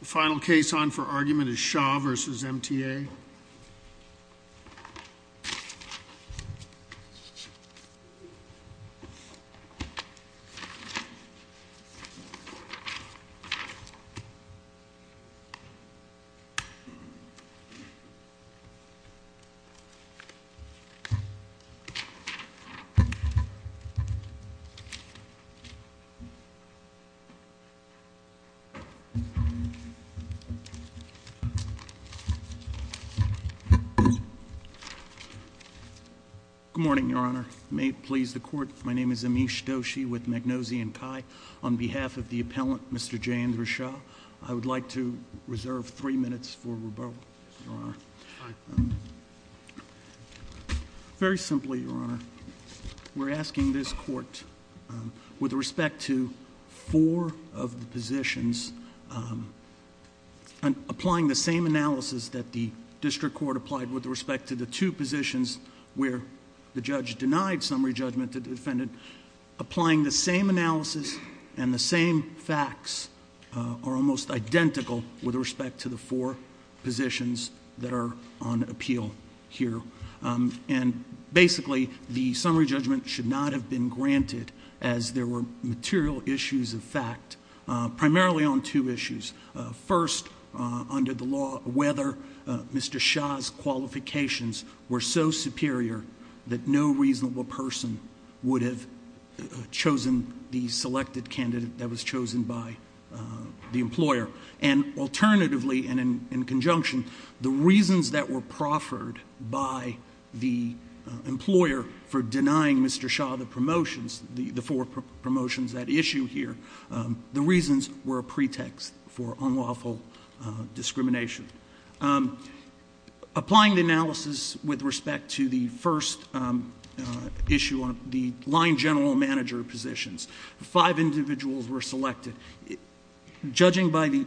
The final case on for argument is Shaw v. MTA Good morning, Your Honor. May it please the court, my name is Amish Doshi with Magnosian Chi. On behalf of the appellant, Mr. J. Andrew Shaw, I would like to reserve three minutes for rebuttal, Your Honor. Very simply, Your Honor, we're asking this court with respect to four of the positions, applying the same analysis that the district court applied with respect to the two positions where the judge denied summary judgment to the defendant, applying the same analysis and the same facts are almost identical with respect to the four positions that are on appeal here. And basically, the summary judgment should not have been based on material issues of fact, primarily on two issues. First, under the law, whether Mr. Shaw's qualifications were so superior that no reasonable person would have chosen the selected candidate that was chosen by the employer. And alternatively, and in conjunction, the reasons that were proffered by the employer for denying Mr. Shaw the promotions, the four promotions at issue here, the reasons were a pretext for unlawful discrimination. Applying the analysis with respect to the first issue on the line general manager positions, five individuals were selected. Judging by the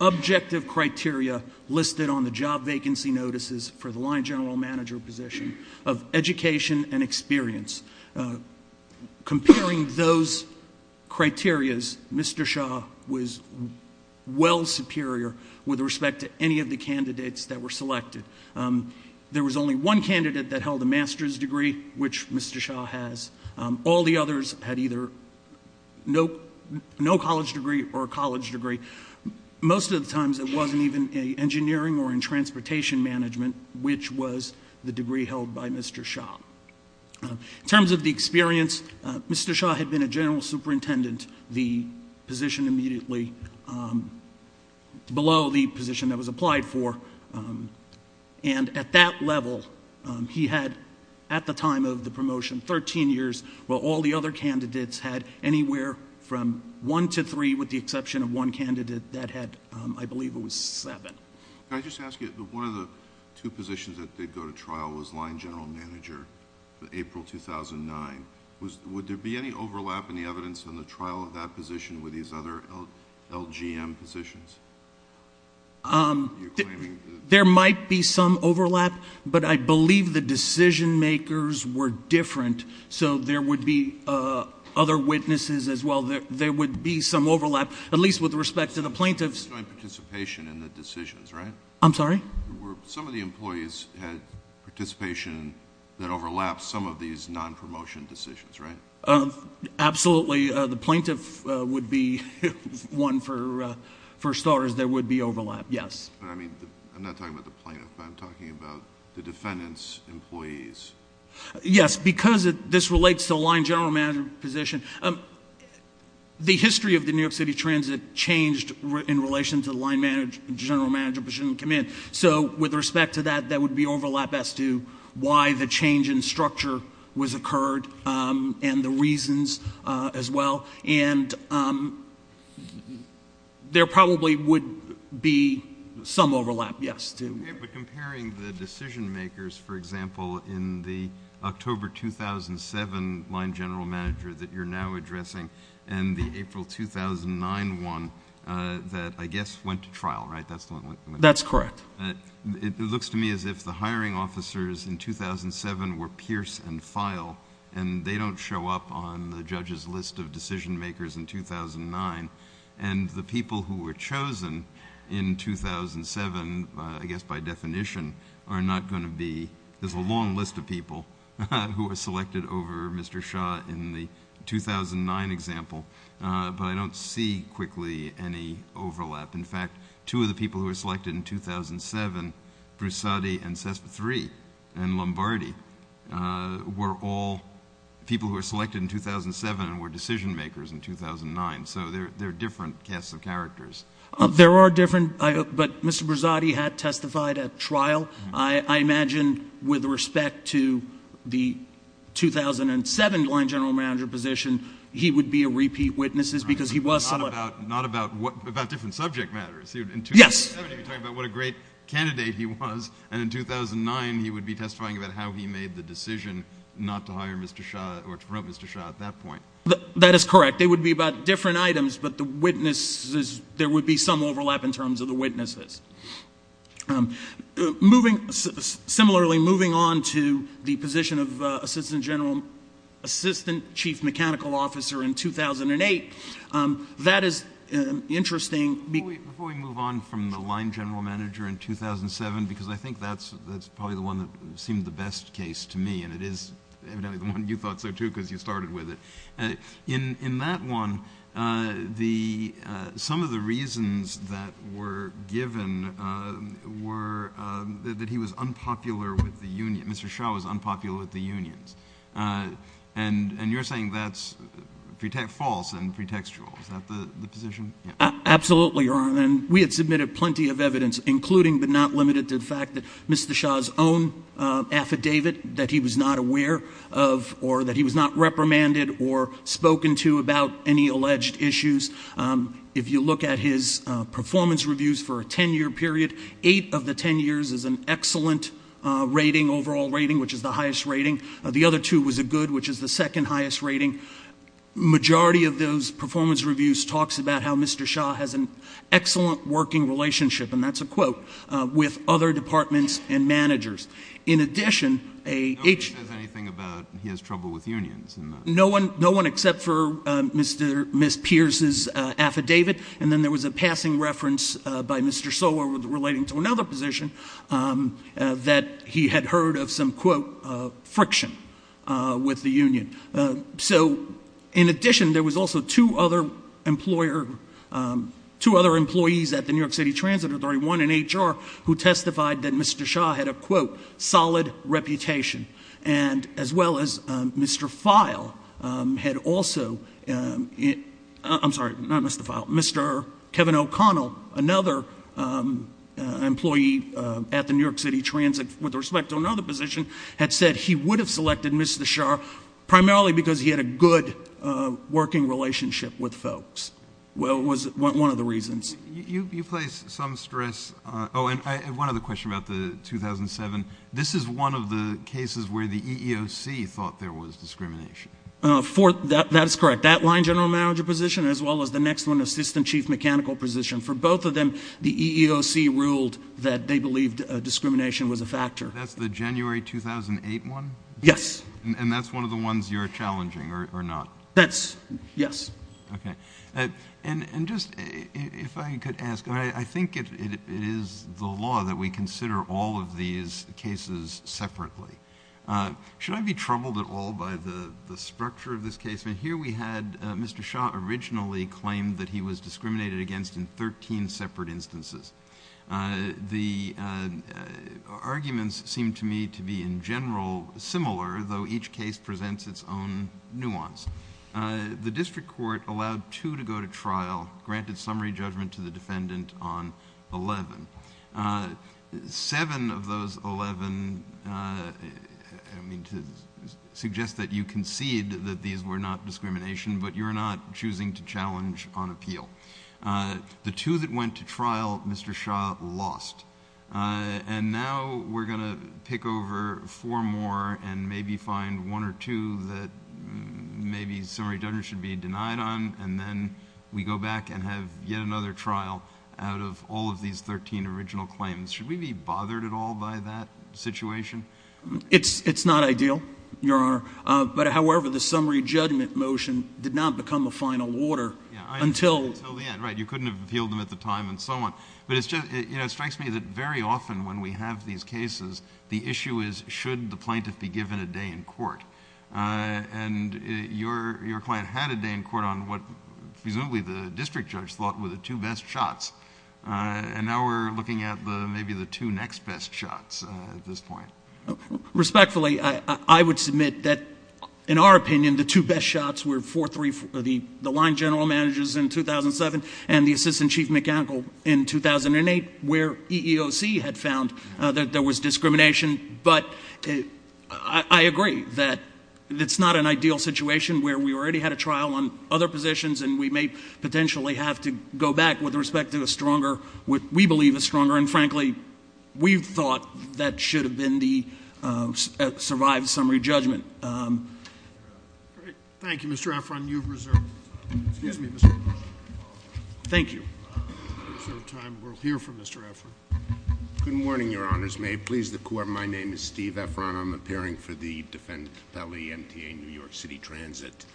objective criteria listed on the job vacancy notices for the line general manager position of education and experience, comparing those criterias, Mr. Shaw was well superior with respect to any of the candidates that were selected. There was only one candidate that held a master's degree, which Mr. Shaw has. All the others had either no college degree or a college degree. Most of the times it were in transportation management, which was the degree held by Mr. Shaw. In terms of the experience, Mr. Shaw had been a general superintendent, the position immediately below the position that was applied for. And at that level, he had at the time of the promotion 13 years, while all the other candidates had anywhere from one to three, with the exception of one candidate that had, I believe it was seven. I just ask you, one of the two positions that did go to trial was line general manager, April 2009. Would there be any overlap in the evidence on the trial of that position with these other LGM positions? There might be some overlap, but I believe the decision makers were different, so there are witnesses as well. There would be some overlap, at least with respect to the plaintiff's... You're talking about participation in the decisions, right? I'm sorry? Were some of the employees had participation that overlaps some of these non-promotion decisions, right? Absolutely. The plaintiff would be one for starters. There would be overlap, yes. I'm not talking about the plaintiff, but I'm talking about the defendant's employees. Yes, because this relates to the line general manager position. The history of the New York City Transit changed in relation to the line general manager position and command, so with respect to that, there would be overlap as to why the change in structure was occurred and the reasons as well. There probably would be some overlap, yes. Comparing the decision makers, for example, in the October 2007 line general manager that you're now addressing and the April 2009 one that I guess went to trial, right? That's correct. It looks to me as if the hiring officers in 2007 were Pierce and Feil, and they don't show up on the judge's list of decision makers in 2009, and the people who were chosen in 2009, I guess by definition, are not going to be... There's a long list of people who were selected over Mr. Shah in the 2009 example, but I don't see quickly any overlap. In fact, two of the people who were selected in 2007, Broussardi and Cesspathrie and Lombardi, were all people who were selected in 2007 and were decision makers in 2009, so they're different casts of characters. There are different, but Mr. Broussardi had testified at trial. I imagine with respect to the 2007 line general manager position, he would be a repeat witness because he was selected. Not about different subject matters. In 2007, you're talking about what a great candidate he was, and in 2009, he would be testifying about how he made the decision not to hire Mr. Shah or to promote Mr. Shah at that point. That is correct. They would be about different items, but there would be some overlap in terms of the witnesses. Similarly, moving on to the position of assistant chief mechanical officer in 2008, that is interesting... Before we move on from the line general manager in 2007, because I think that's probably the one that seemed the best case to me, and it is evidently the one you thought so, too, because you started with it. In that one, some of the reasons that were given were that he was unpopular with the union, Mr. Shah was unpopular with the unions, and you're saying that's false and pretextual. Is that the position? Absolutely, Your Honor, and we had submitted plenty of evidence, including but not limited to the fact that Mr. Shah's own affidavit that he was not aware of or that he was not reprimanded or spoken to about any alleged issues. If you look at his performance reviews for a 10-year period, eight of the 10 years is an excellent rating, overall rating, which is the highest rating. The other two was a good, which is the second highest rating. Majority of those performance reviews talks about how Mr. Shah has an excellent working relationship, and that's a quote, with other departments and managers. In addition, a Nobody says anything about he has trouble with unions in that. No one except for Ms. Pierce's affidavit, and then there was a passing reference by Mr. Sola relating to another position that he had heard of some, quote, friction with the union. So in addition, there was also two other employees at the New York City Transit Authority, one in HR, who testified that Mr. Shah had a, quote, solid reputation, and as well as Mr. File had also, I'm sorry, not Mr. File, Mr. Kevin O'Connell, another employee at the New York City Transit with respect to another position, had said he would have selected Mr. Shah primarily because he had a good working relationship with folks, was one of the reasons. You place some stress on, oh, and one other question about the 2007. This is one of the cases where the EEOC thought there was discrimination. That is correct. That line general manager position, as well as the next one, assistant chief mechanical position, for both of them, the EEOC ruled that they believed discrimination was a factor. That's the January 2008 one? Yes. And that's one of the ones you're challenging, or not? Yes. Okay. And just, if I could ask, I think it is the law that we consider all of these cases separately. Should I be troubled at all by the structure of this case? Here we had Mr. Shah originally claimed that he was discriminated against in 13 separate instances. The arguments seemed to me to be, in general, similar, though each case presents its own nuance. The district court allowed two to go to trial, granted summary judgment to the defendant on 11. Seven of those 11, I mean, to suggest that you concede that these were not discrimination, but you're not choosing to challenge on appeal. The two that went to trial, Mr. Shah lost. And now we're going to pick over four more and maybe find one or two that maybe summary judgment should be denied on, and then we go back and have yet another trial out of all of these 13 original claims. Should we be bothered at all by that situation? It's not ideal, Your Honor. But, however, the summary judgment motion did not become a final order until... Until the end, right. You couldn't have appealed them at the time and so on. But it strikes me that very often when we have these cases, the issue is, should the plaintiff be given a day in court? And your client had a day in court on what presumably the district judge thought were the two best shots. And now we're looking at maybe the two next best shots at this point. Respectfully, I would submit that, in our opinion, the two best shots were the line general managers in 2007 and the assistant chief mechanical in 2008 where EEOC had found that there was discrimination. But I agree that it's not an ideal situation where we already had a trial on other positions and we may potentially have to go back with respect to a stronger... what we believe is stronger. And, frankly, we thought that should have been the survived summary judgment. Great. Thank you, Mr. Efron. You've reserved... Excuse me, Mr.... Thank you. We'll reserve time. We'll hear from Mr. Efron. Good morning, Your Honors. May it please the Court, my name is Steve Efron. I'm appearing for the Defendant Compelli MTA New York City Transit.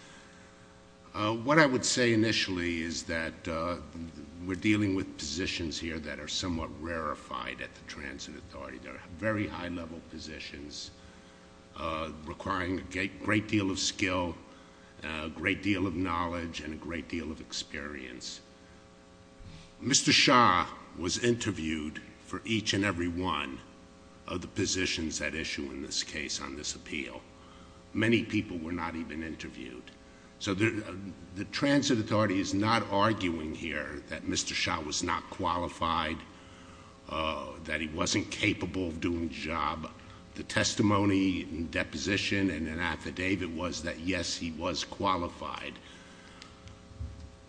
What I would say initially is that we're dealing with positions here that are somewhat rarefied at the Transit Authority. They're very high-level positions requiring a great deal of skill, a great deal of knowledge, and a great deal of experience. Mr. Shah was interviewed for each and every one of the positions at issue in this case on this appeal. Many people were not even interviewed. So the Transit Authority is not arguing here that Mr. Shah was not qualified, that he wasn't capable of doing the job. The testimony and deposition and an affidavit was that, yes, he was qualified.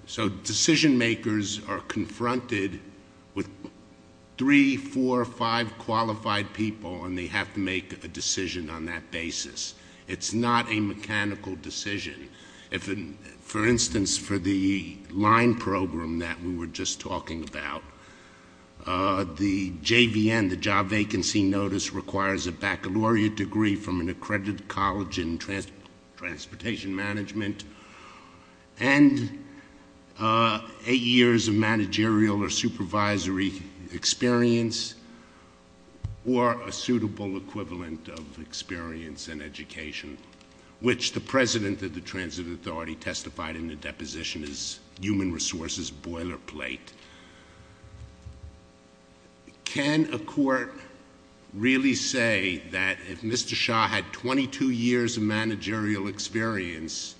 So decision-makers are confronted with three, four, five qualified people, and they have to make a decision on that basis. It's not a mechanical decision. For instance, for the line program that we were just talking about, the JVN, the Job Vacancy Notice, requires a baccalaureate degree from an accredited college in transportation management and eight years of managerial or supervisory experience or a suitable equivalent of experience and education, which the president of the Transit Authority testified in the deposition is human resources, boilerplate. Can a court really say that if Mr. Shah had 22 years of managerial experience,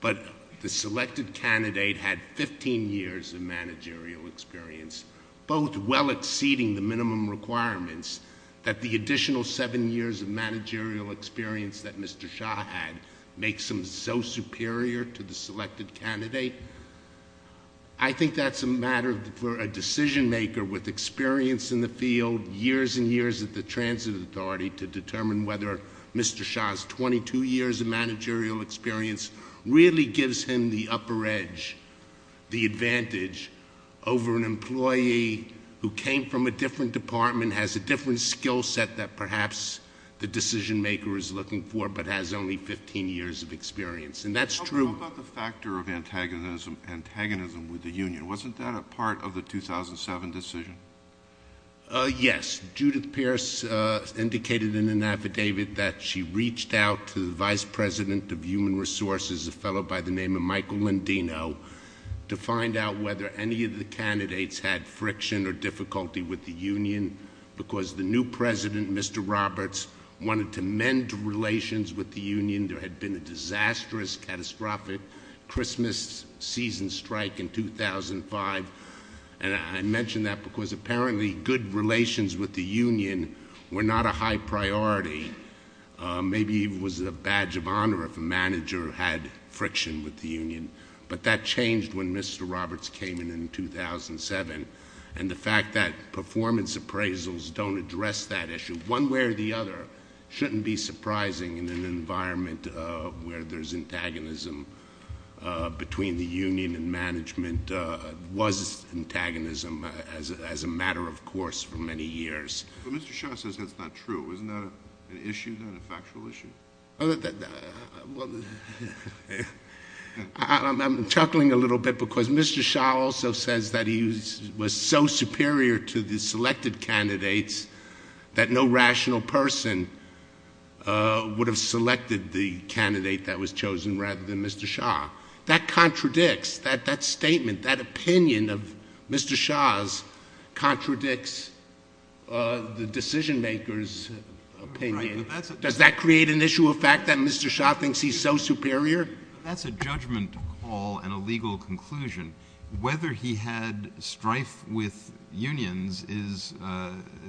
but the selected candidate had 15 years of managerial experience, both well exceeding the minimum requirements, that the additional seven years of managerial experience that Mr. Shah had makes him so superior to the selected candidate? I think that's a matter for a decision-maker with experience in the field, years and years at the Transit Authority, to determine whether Mr. Shah's 22 years of managerial experience really gives him the upper edge, the advantage, over an employee who came from a different department, has a different skill set that perhaps the decision-maker is looking for, but has only 15 years of experience, and that's true. How about the factor of antagonism with the union? Wasn't that a part of the 2007 decision? Yes. Judith Pierce indicated in an affidavit that she reached out to the vice president of human resources, a fellow by the name of Michael Landino, to find out whether any of the candidates had friction or difficulty with the union, because the new president, Mr. Roberts, wanted to mend relations with the union. There had been a disastrous, catastrophic Christmas season strike in 2005, and I mention that because apparently good relations with the union were not a high priority. Maybe it was a badge of honor if a manager had friction with the union, but that changed when Mr. Roberts came in in 2007, and the fact that performance appraisals don't address that issue one way or the other shouldn't be surprising in an environment where there's antagonism between the union and management was antagonism as a matter of course for many years. But Mr. Shah says that's not true. Isn't that an issue, not a factual issue? I'm chuckling a little bit because Mr. Shah also says that he was so superior to the selected candidates that no rational person would have selected the candidate that was chosen rather than Mr. Shah. That contradicts, that statement, that opinion of Mr. Shah's contradicts the decision maker's opinion. Does that create an issue of fact that Mr. Shah thinks he's so superior? That's a judgment call and a legal conclusion. Whether he had strife with unions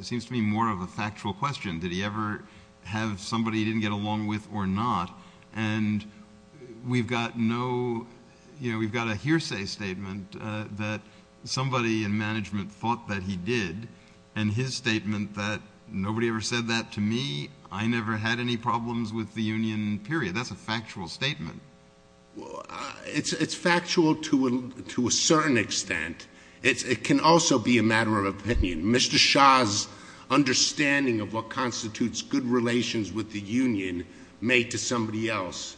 seems to me more of a factual question. Did he ever have somebody he didn't get along with or not? And we've got a hearsay statement that somebody in management thought that he did, and his statement that nobody ever said that to me. I never had any problems with the union, period. That's a factual statement. It's factual to a certain extent. It can also be a matter of opinion. Mr. Shah's understanding of what constitutes good relations with the union may to somebody else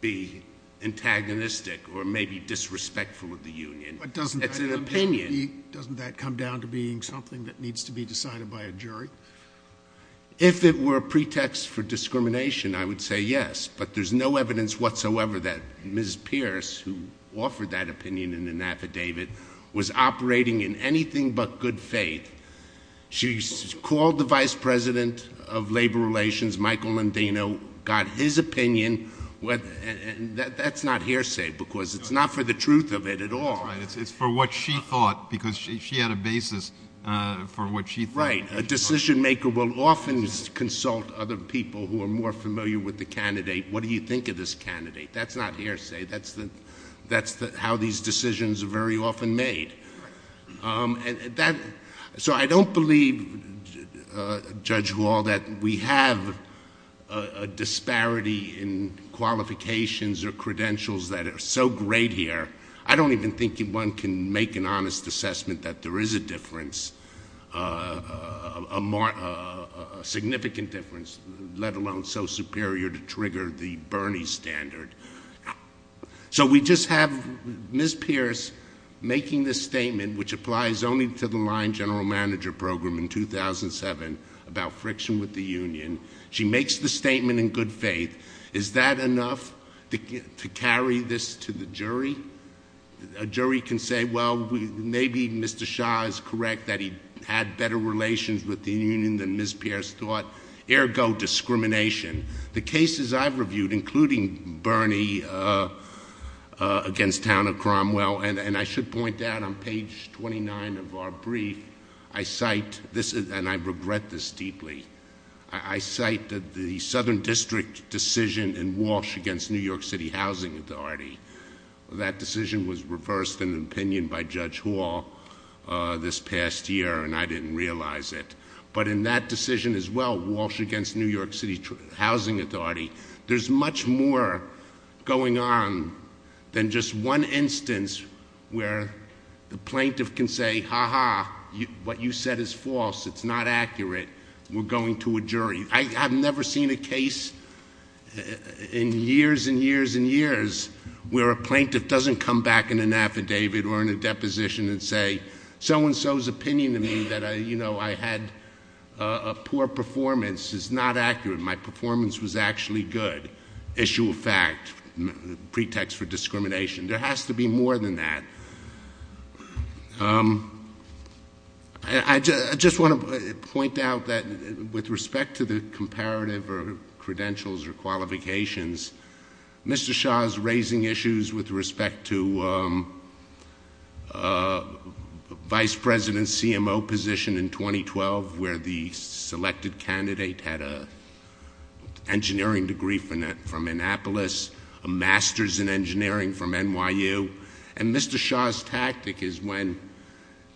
be antagonistic or may be disrespectful of the union. But doesn't that come down to being something that needs to be decided by a jury? If it were a pretext for discrimination, I would say yes. But there's no evidence whatsoever that Ms. Pierce, who offered that opinion in an affidavit, was operating in anything but good faith. She called the vice president of labor relations, Michael Landino, got his opinion. That's not hearsay because it's not for the truth of it at all. It's for what she thought because she had a basis for what she thought. Right. A decision maker will often consult other people who are more familiar with the candidate. What do you think of this candidate? That's not hearsay. That's how these decisions are very often made. So I don't believe, Judge Hall, that we have a disparity in qualifications or credentials that are so great here. I don't even think one can make an honest assessment that there is a difference, a significant difference, let alone so superior to trigger the Bernie standard. So we just have Ms. Pierce making this statement, which applies only to the line general manager program in 2007, about friction with the union. She makes the statement in good faith. Is that enough to carry this to the jury? A jury can say, well, maybe Mr. Shah is correct that he had better relations with the union than Ms. Pierce thought, ergo discrimination. The cases I've reviewed, including Bernie against Town of Cromwell, and I should point out on page 29 of our brief, I cite, and I regret this deeply, I cite the Southern District decision in Walsh against New York City Housing Authority. That decision was reversed in opinion by Judge Hall this past year, and I didn't realize it. But in that decision as well, Walsh against New York City Housing Authority, there's much more going on than just one instance where the plaintiff can say, ha ha, what you said is false, it's not accurate, we're going to a jury. I've never seen a case in years and years and years where a plaintiff doesn't come back in an affidavit or in a deposition and say, so and so's opinion to me that I had a poor performance is not accurate. My performance was actually good. Issue of fact, pretext for discrimination. There has to be more than that. I just want to point out that with respect to the comparative or credentials or qualifications, Mr. Shah's raising issues with respect to Vice President's CMO position in 2012, where the selected candidate had an engineering degree from Annapolis, a master's in engineering from NYU. And Mr. Shah's tactic is when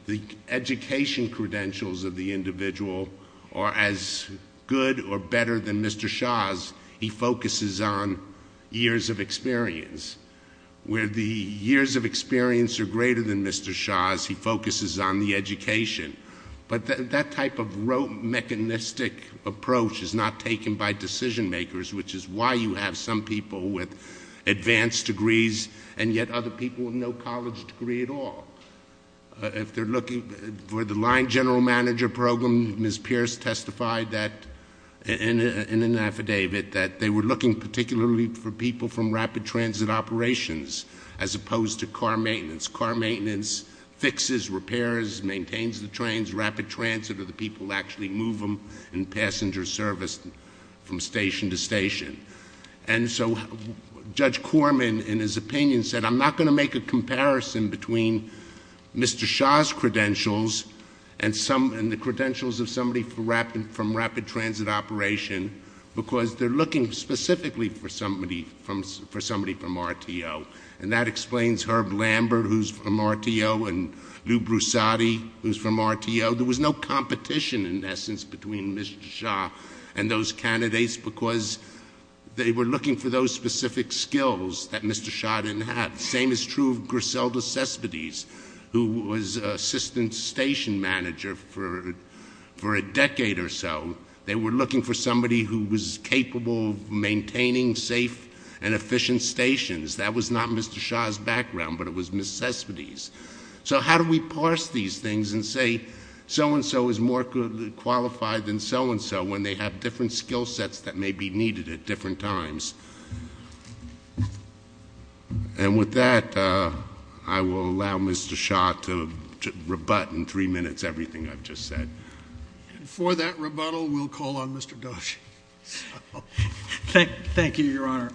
the education credentials of the individual are as good or less than Mr. Shah's, he focuses on years of experience. Where the years of experience are greater than Mr. Shah's, he focuses on the education. But that type of rote mechanistic approach is not taken by decision makers, which is why you have some people with advanced degrees and yet other people with no college degree at all. If they're looking for the line general manager program, Ms. Pierce testified in an affidavit that they were looking particularly for people from rapid transit operations as opposed to car maintenance. Car maintenance fixes, repairs, maintains the trains, rapid transit, or the people actually move them in passenger service from station to station. And so Judge Corman, in his opinion, said, I'm not going to make a comparison between Mr. Shah's credentials and the credentials of somebody from rapid transit operation, because they're looking specifically for somebody from RTO. And that explains Herb Lambert, who's from RTO, and Lou Broussardi, who's from RTO. There was no competition, in essence, between Mr. Shah and those candidates, because they were looking for those specific skills that Mr. Shah didn't have. Same is true of Griselda Cespedes, who was assistant station manager for a decade or so. They were looking for somebody who was capable of maintaining safe and efficient stations. That was not Mr. Shah's background, but it was Ms. Cespedes. So how do we parse these things and say so and so is more qualified than so and so when they have different skill sets that may be needed at different times? And with that, I will allow Mr. Shah to rebut in three minutes everything I've just said. And for that rebuttal, we'll call on Mr. Doshi. Thank you, Your Honor.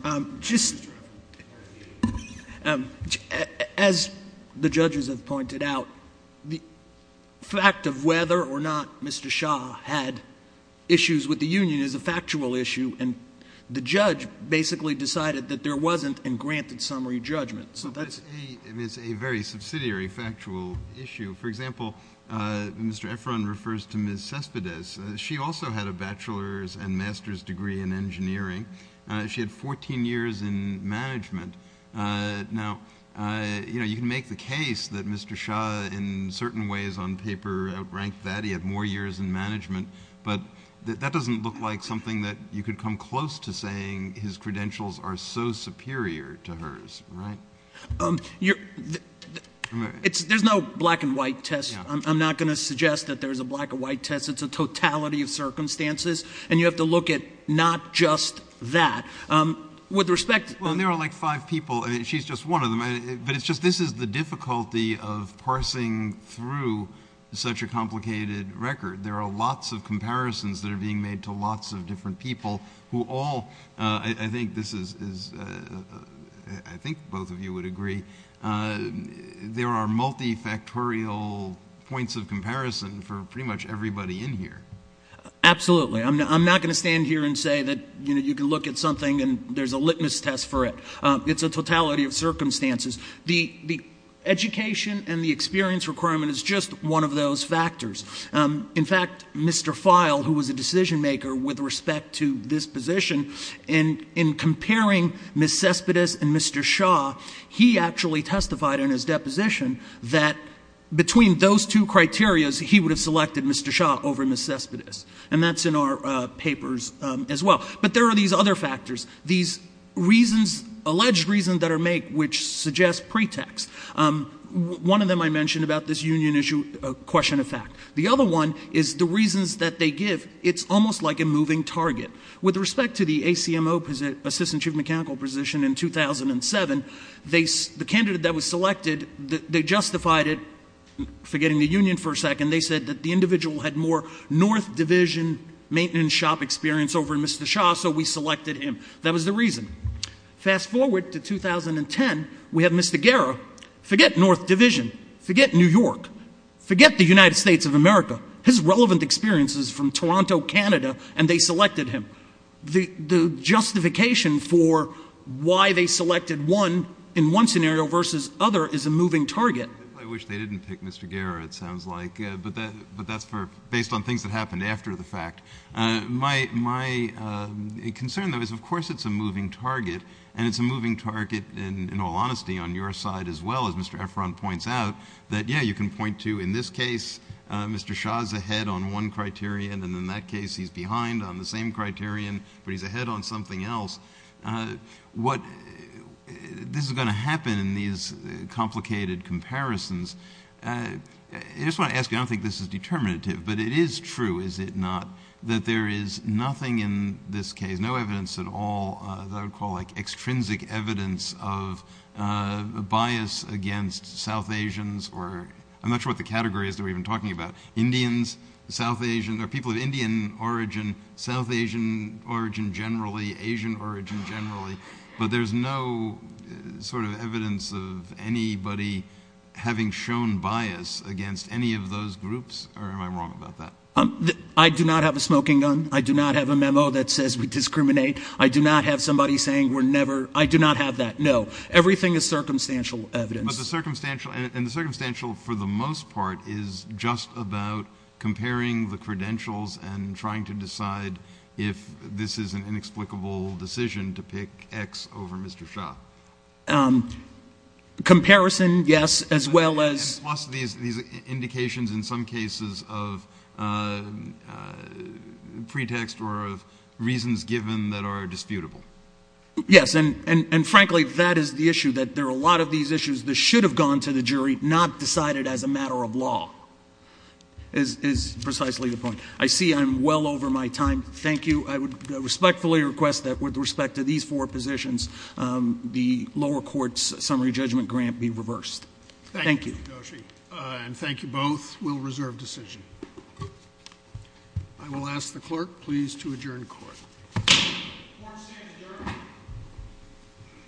As the judges have pointed out, the fact of whether or not Mr. Shah had issues with the union is a factual issue. And the judge basically decided that there wasn't and granted summary judgment. It's a very subsidiary factual issue. For example, Mr. Efron refers to Ms. Cespedes. She also had a bachelor's and master's degree in engineering. She had 14 years in management. Now, you can make the case that Mr. Shah in certain ways on paper outranked that. He had more years in management. But that doesn't look like something that you could come close to saying his credentials are so superior to hers, right? There's no black and white test. I'm not going to suggest that there's a black and white test. It's a totality of circumstances. And you have to look at not just that. With respect to the- Well, there are like five people. She's just one of them. But it's just this is the difficulty of parsing through such a complicated record. There are lots of comparisons that are being made to lots of different people who all- I think this is-I think both of you would agree. There are multifactorial points of comparison for pretty much everybody in here. Absolutely. I'm not going to stand here and say that you can look at something and there's a litmus test for it. It's a totality of circumstances. The education and the experience requirement is just one of those factors. In fact, Mr. File, who was a decision maker with respect to this position, in comparing Ms. Cespedes and Mr. Shaw, he actually testified in his deposition that between those two criterias, he would have selected Mr. Shaw over Ms. Cespedes. And that's in our papers as well. But there are these other factors, these reasons, alleged reasons that are made which suggest pretext. One of them I mentioned about this union issue, question of fact. The other one is the reasons that they give. It's almost like a moving target. With respect to the ACMO, Assistant Chief Mechanical Position, in 2007, the candidate that was selected, they justified it, forgetting the union for a second, they said that the individual had more North Division maintenance shop experience over Mr. Shaw, so we selected him. That was the reason. Fast forward to 2010, we have Mr. Guerra. Forget North Division. Forget New York. Forget the United States of America. His relevant experience is from Toronto, Canada, and they selected him. The justification for why they selected one in one scenario versus other is a moving target. I wish they didn't pick Mr. Guerra, it sounds like, but that's based on things that happened after the fact. My concern, though, is of course it's a moving target, and it's a moving target in all honesty on your side as well, as Mr. Efron points out, that, yeah, you can point to in this case Mr. Shaw is ahead on one criterion, and in that case he's behind on the same criterion, but he's ahead on something else. What this is going to happen in these complicated comparisons, I just want to ask you, I don't think this is determinative, but it is true, is it not, that there is nothing in this case, there's no evidence at all that I would call like extrinsic evidence of bias against South Asians, or I'm not sure what the category is that we've been talking about, Indians, South Asian, or people of Indian origin, South Asian origin generally, Asian origin generally, but there's no sort of evidence of anybody having shown bias against any of those groups, or am I wrong about that? I do not have a smoking gun. I do not have a memo that says we discriminate. I do not have somebody saying we're never, I do not have that, no. Everything is circumstantial evidence. But the circumstantial, and the circumstantial for the most part is just about comparing the credentials and trying to decide if this is an inexplicable decision to pick X over Mr. Shaw. Comparison, yes, as well as. Yes, plus these indications in some cases of pretext or of reasons given that are disputable. Yes, and frankly, that is the issue, that there are a lot of these issues that should have gone to the jury, not decided as a matter of law, is precisely the point. I see I'm well over my time. Thank you. I would respectfully request that with respect to these four positions, the lower court's summary judgment grant be reversed. Thank you. Thank you, Yoshi. And thank you both. We'll reserve decision. I will ask the clerk please to adjourn court. Court is adjourned.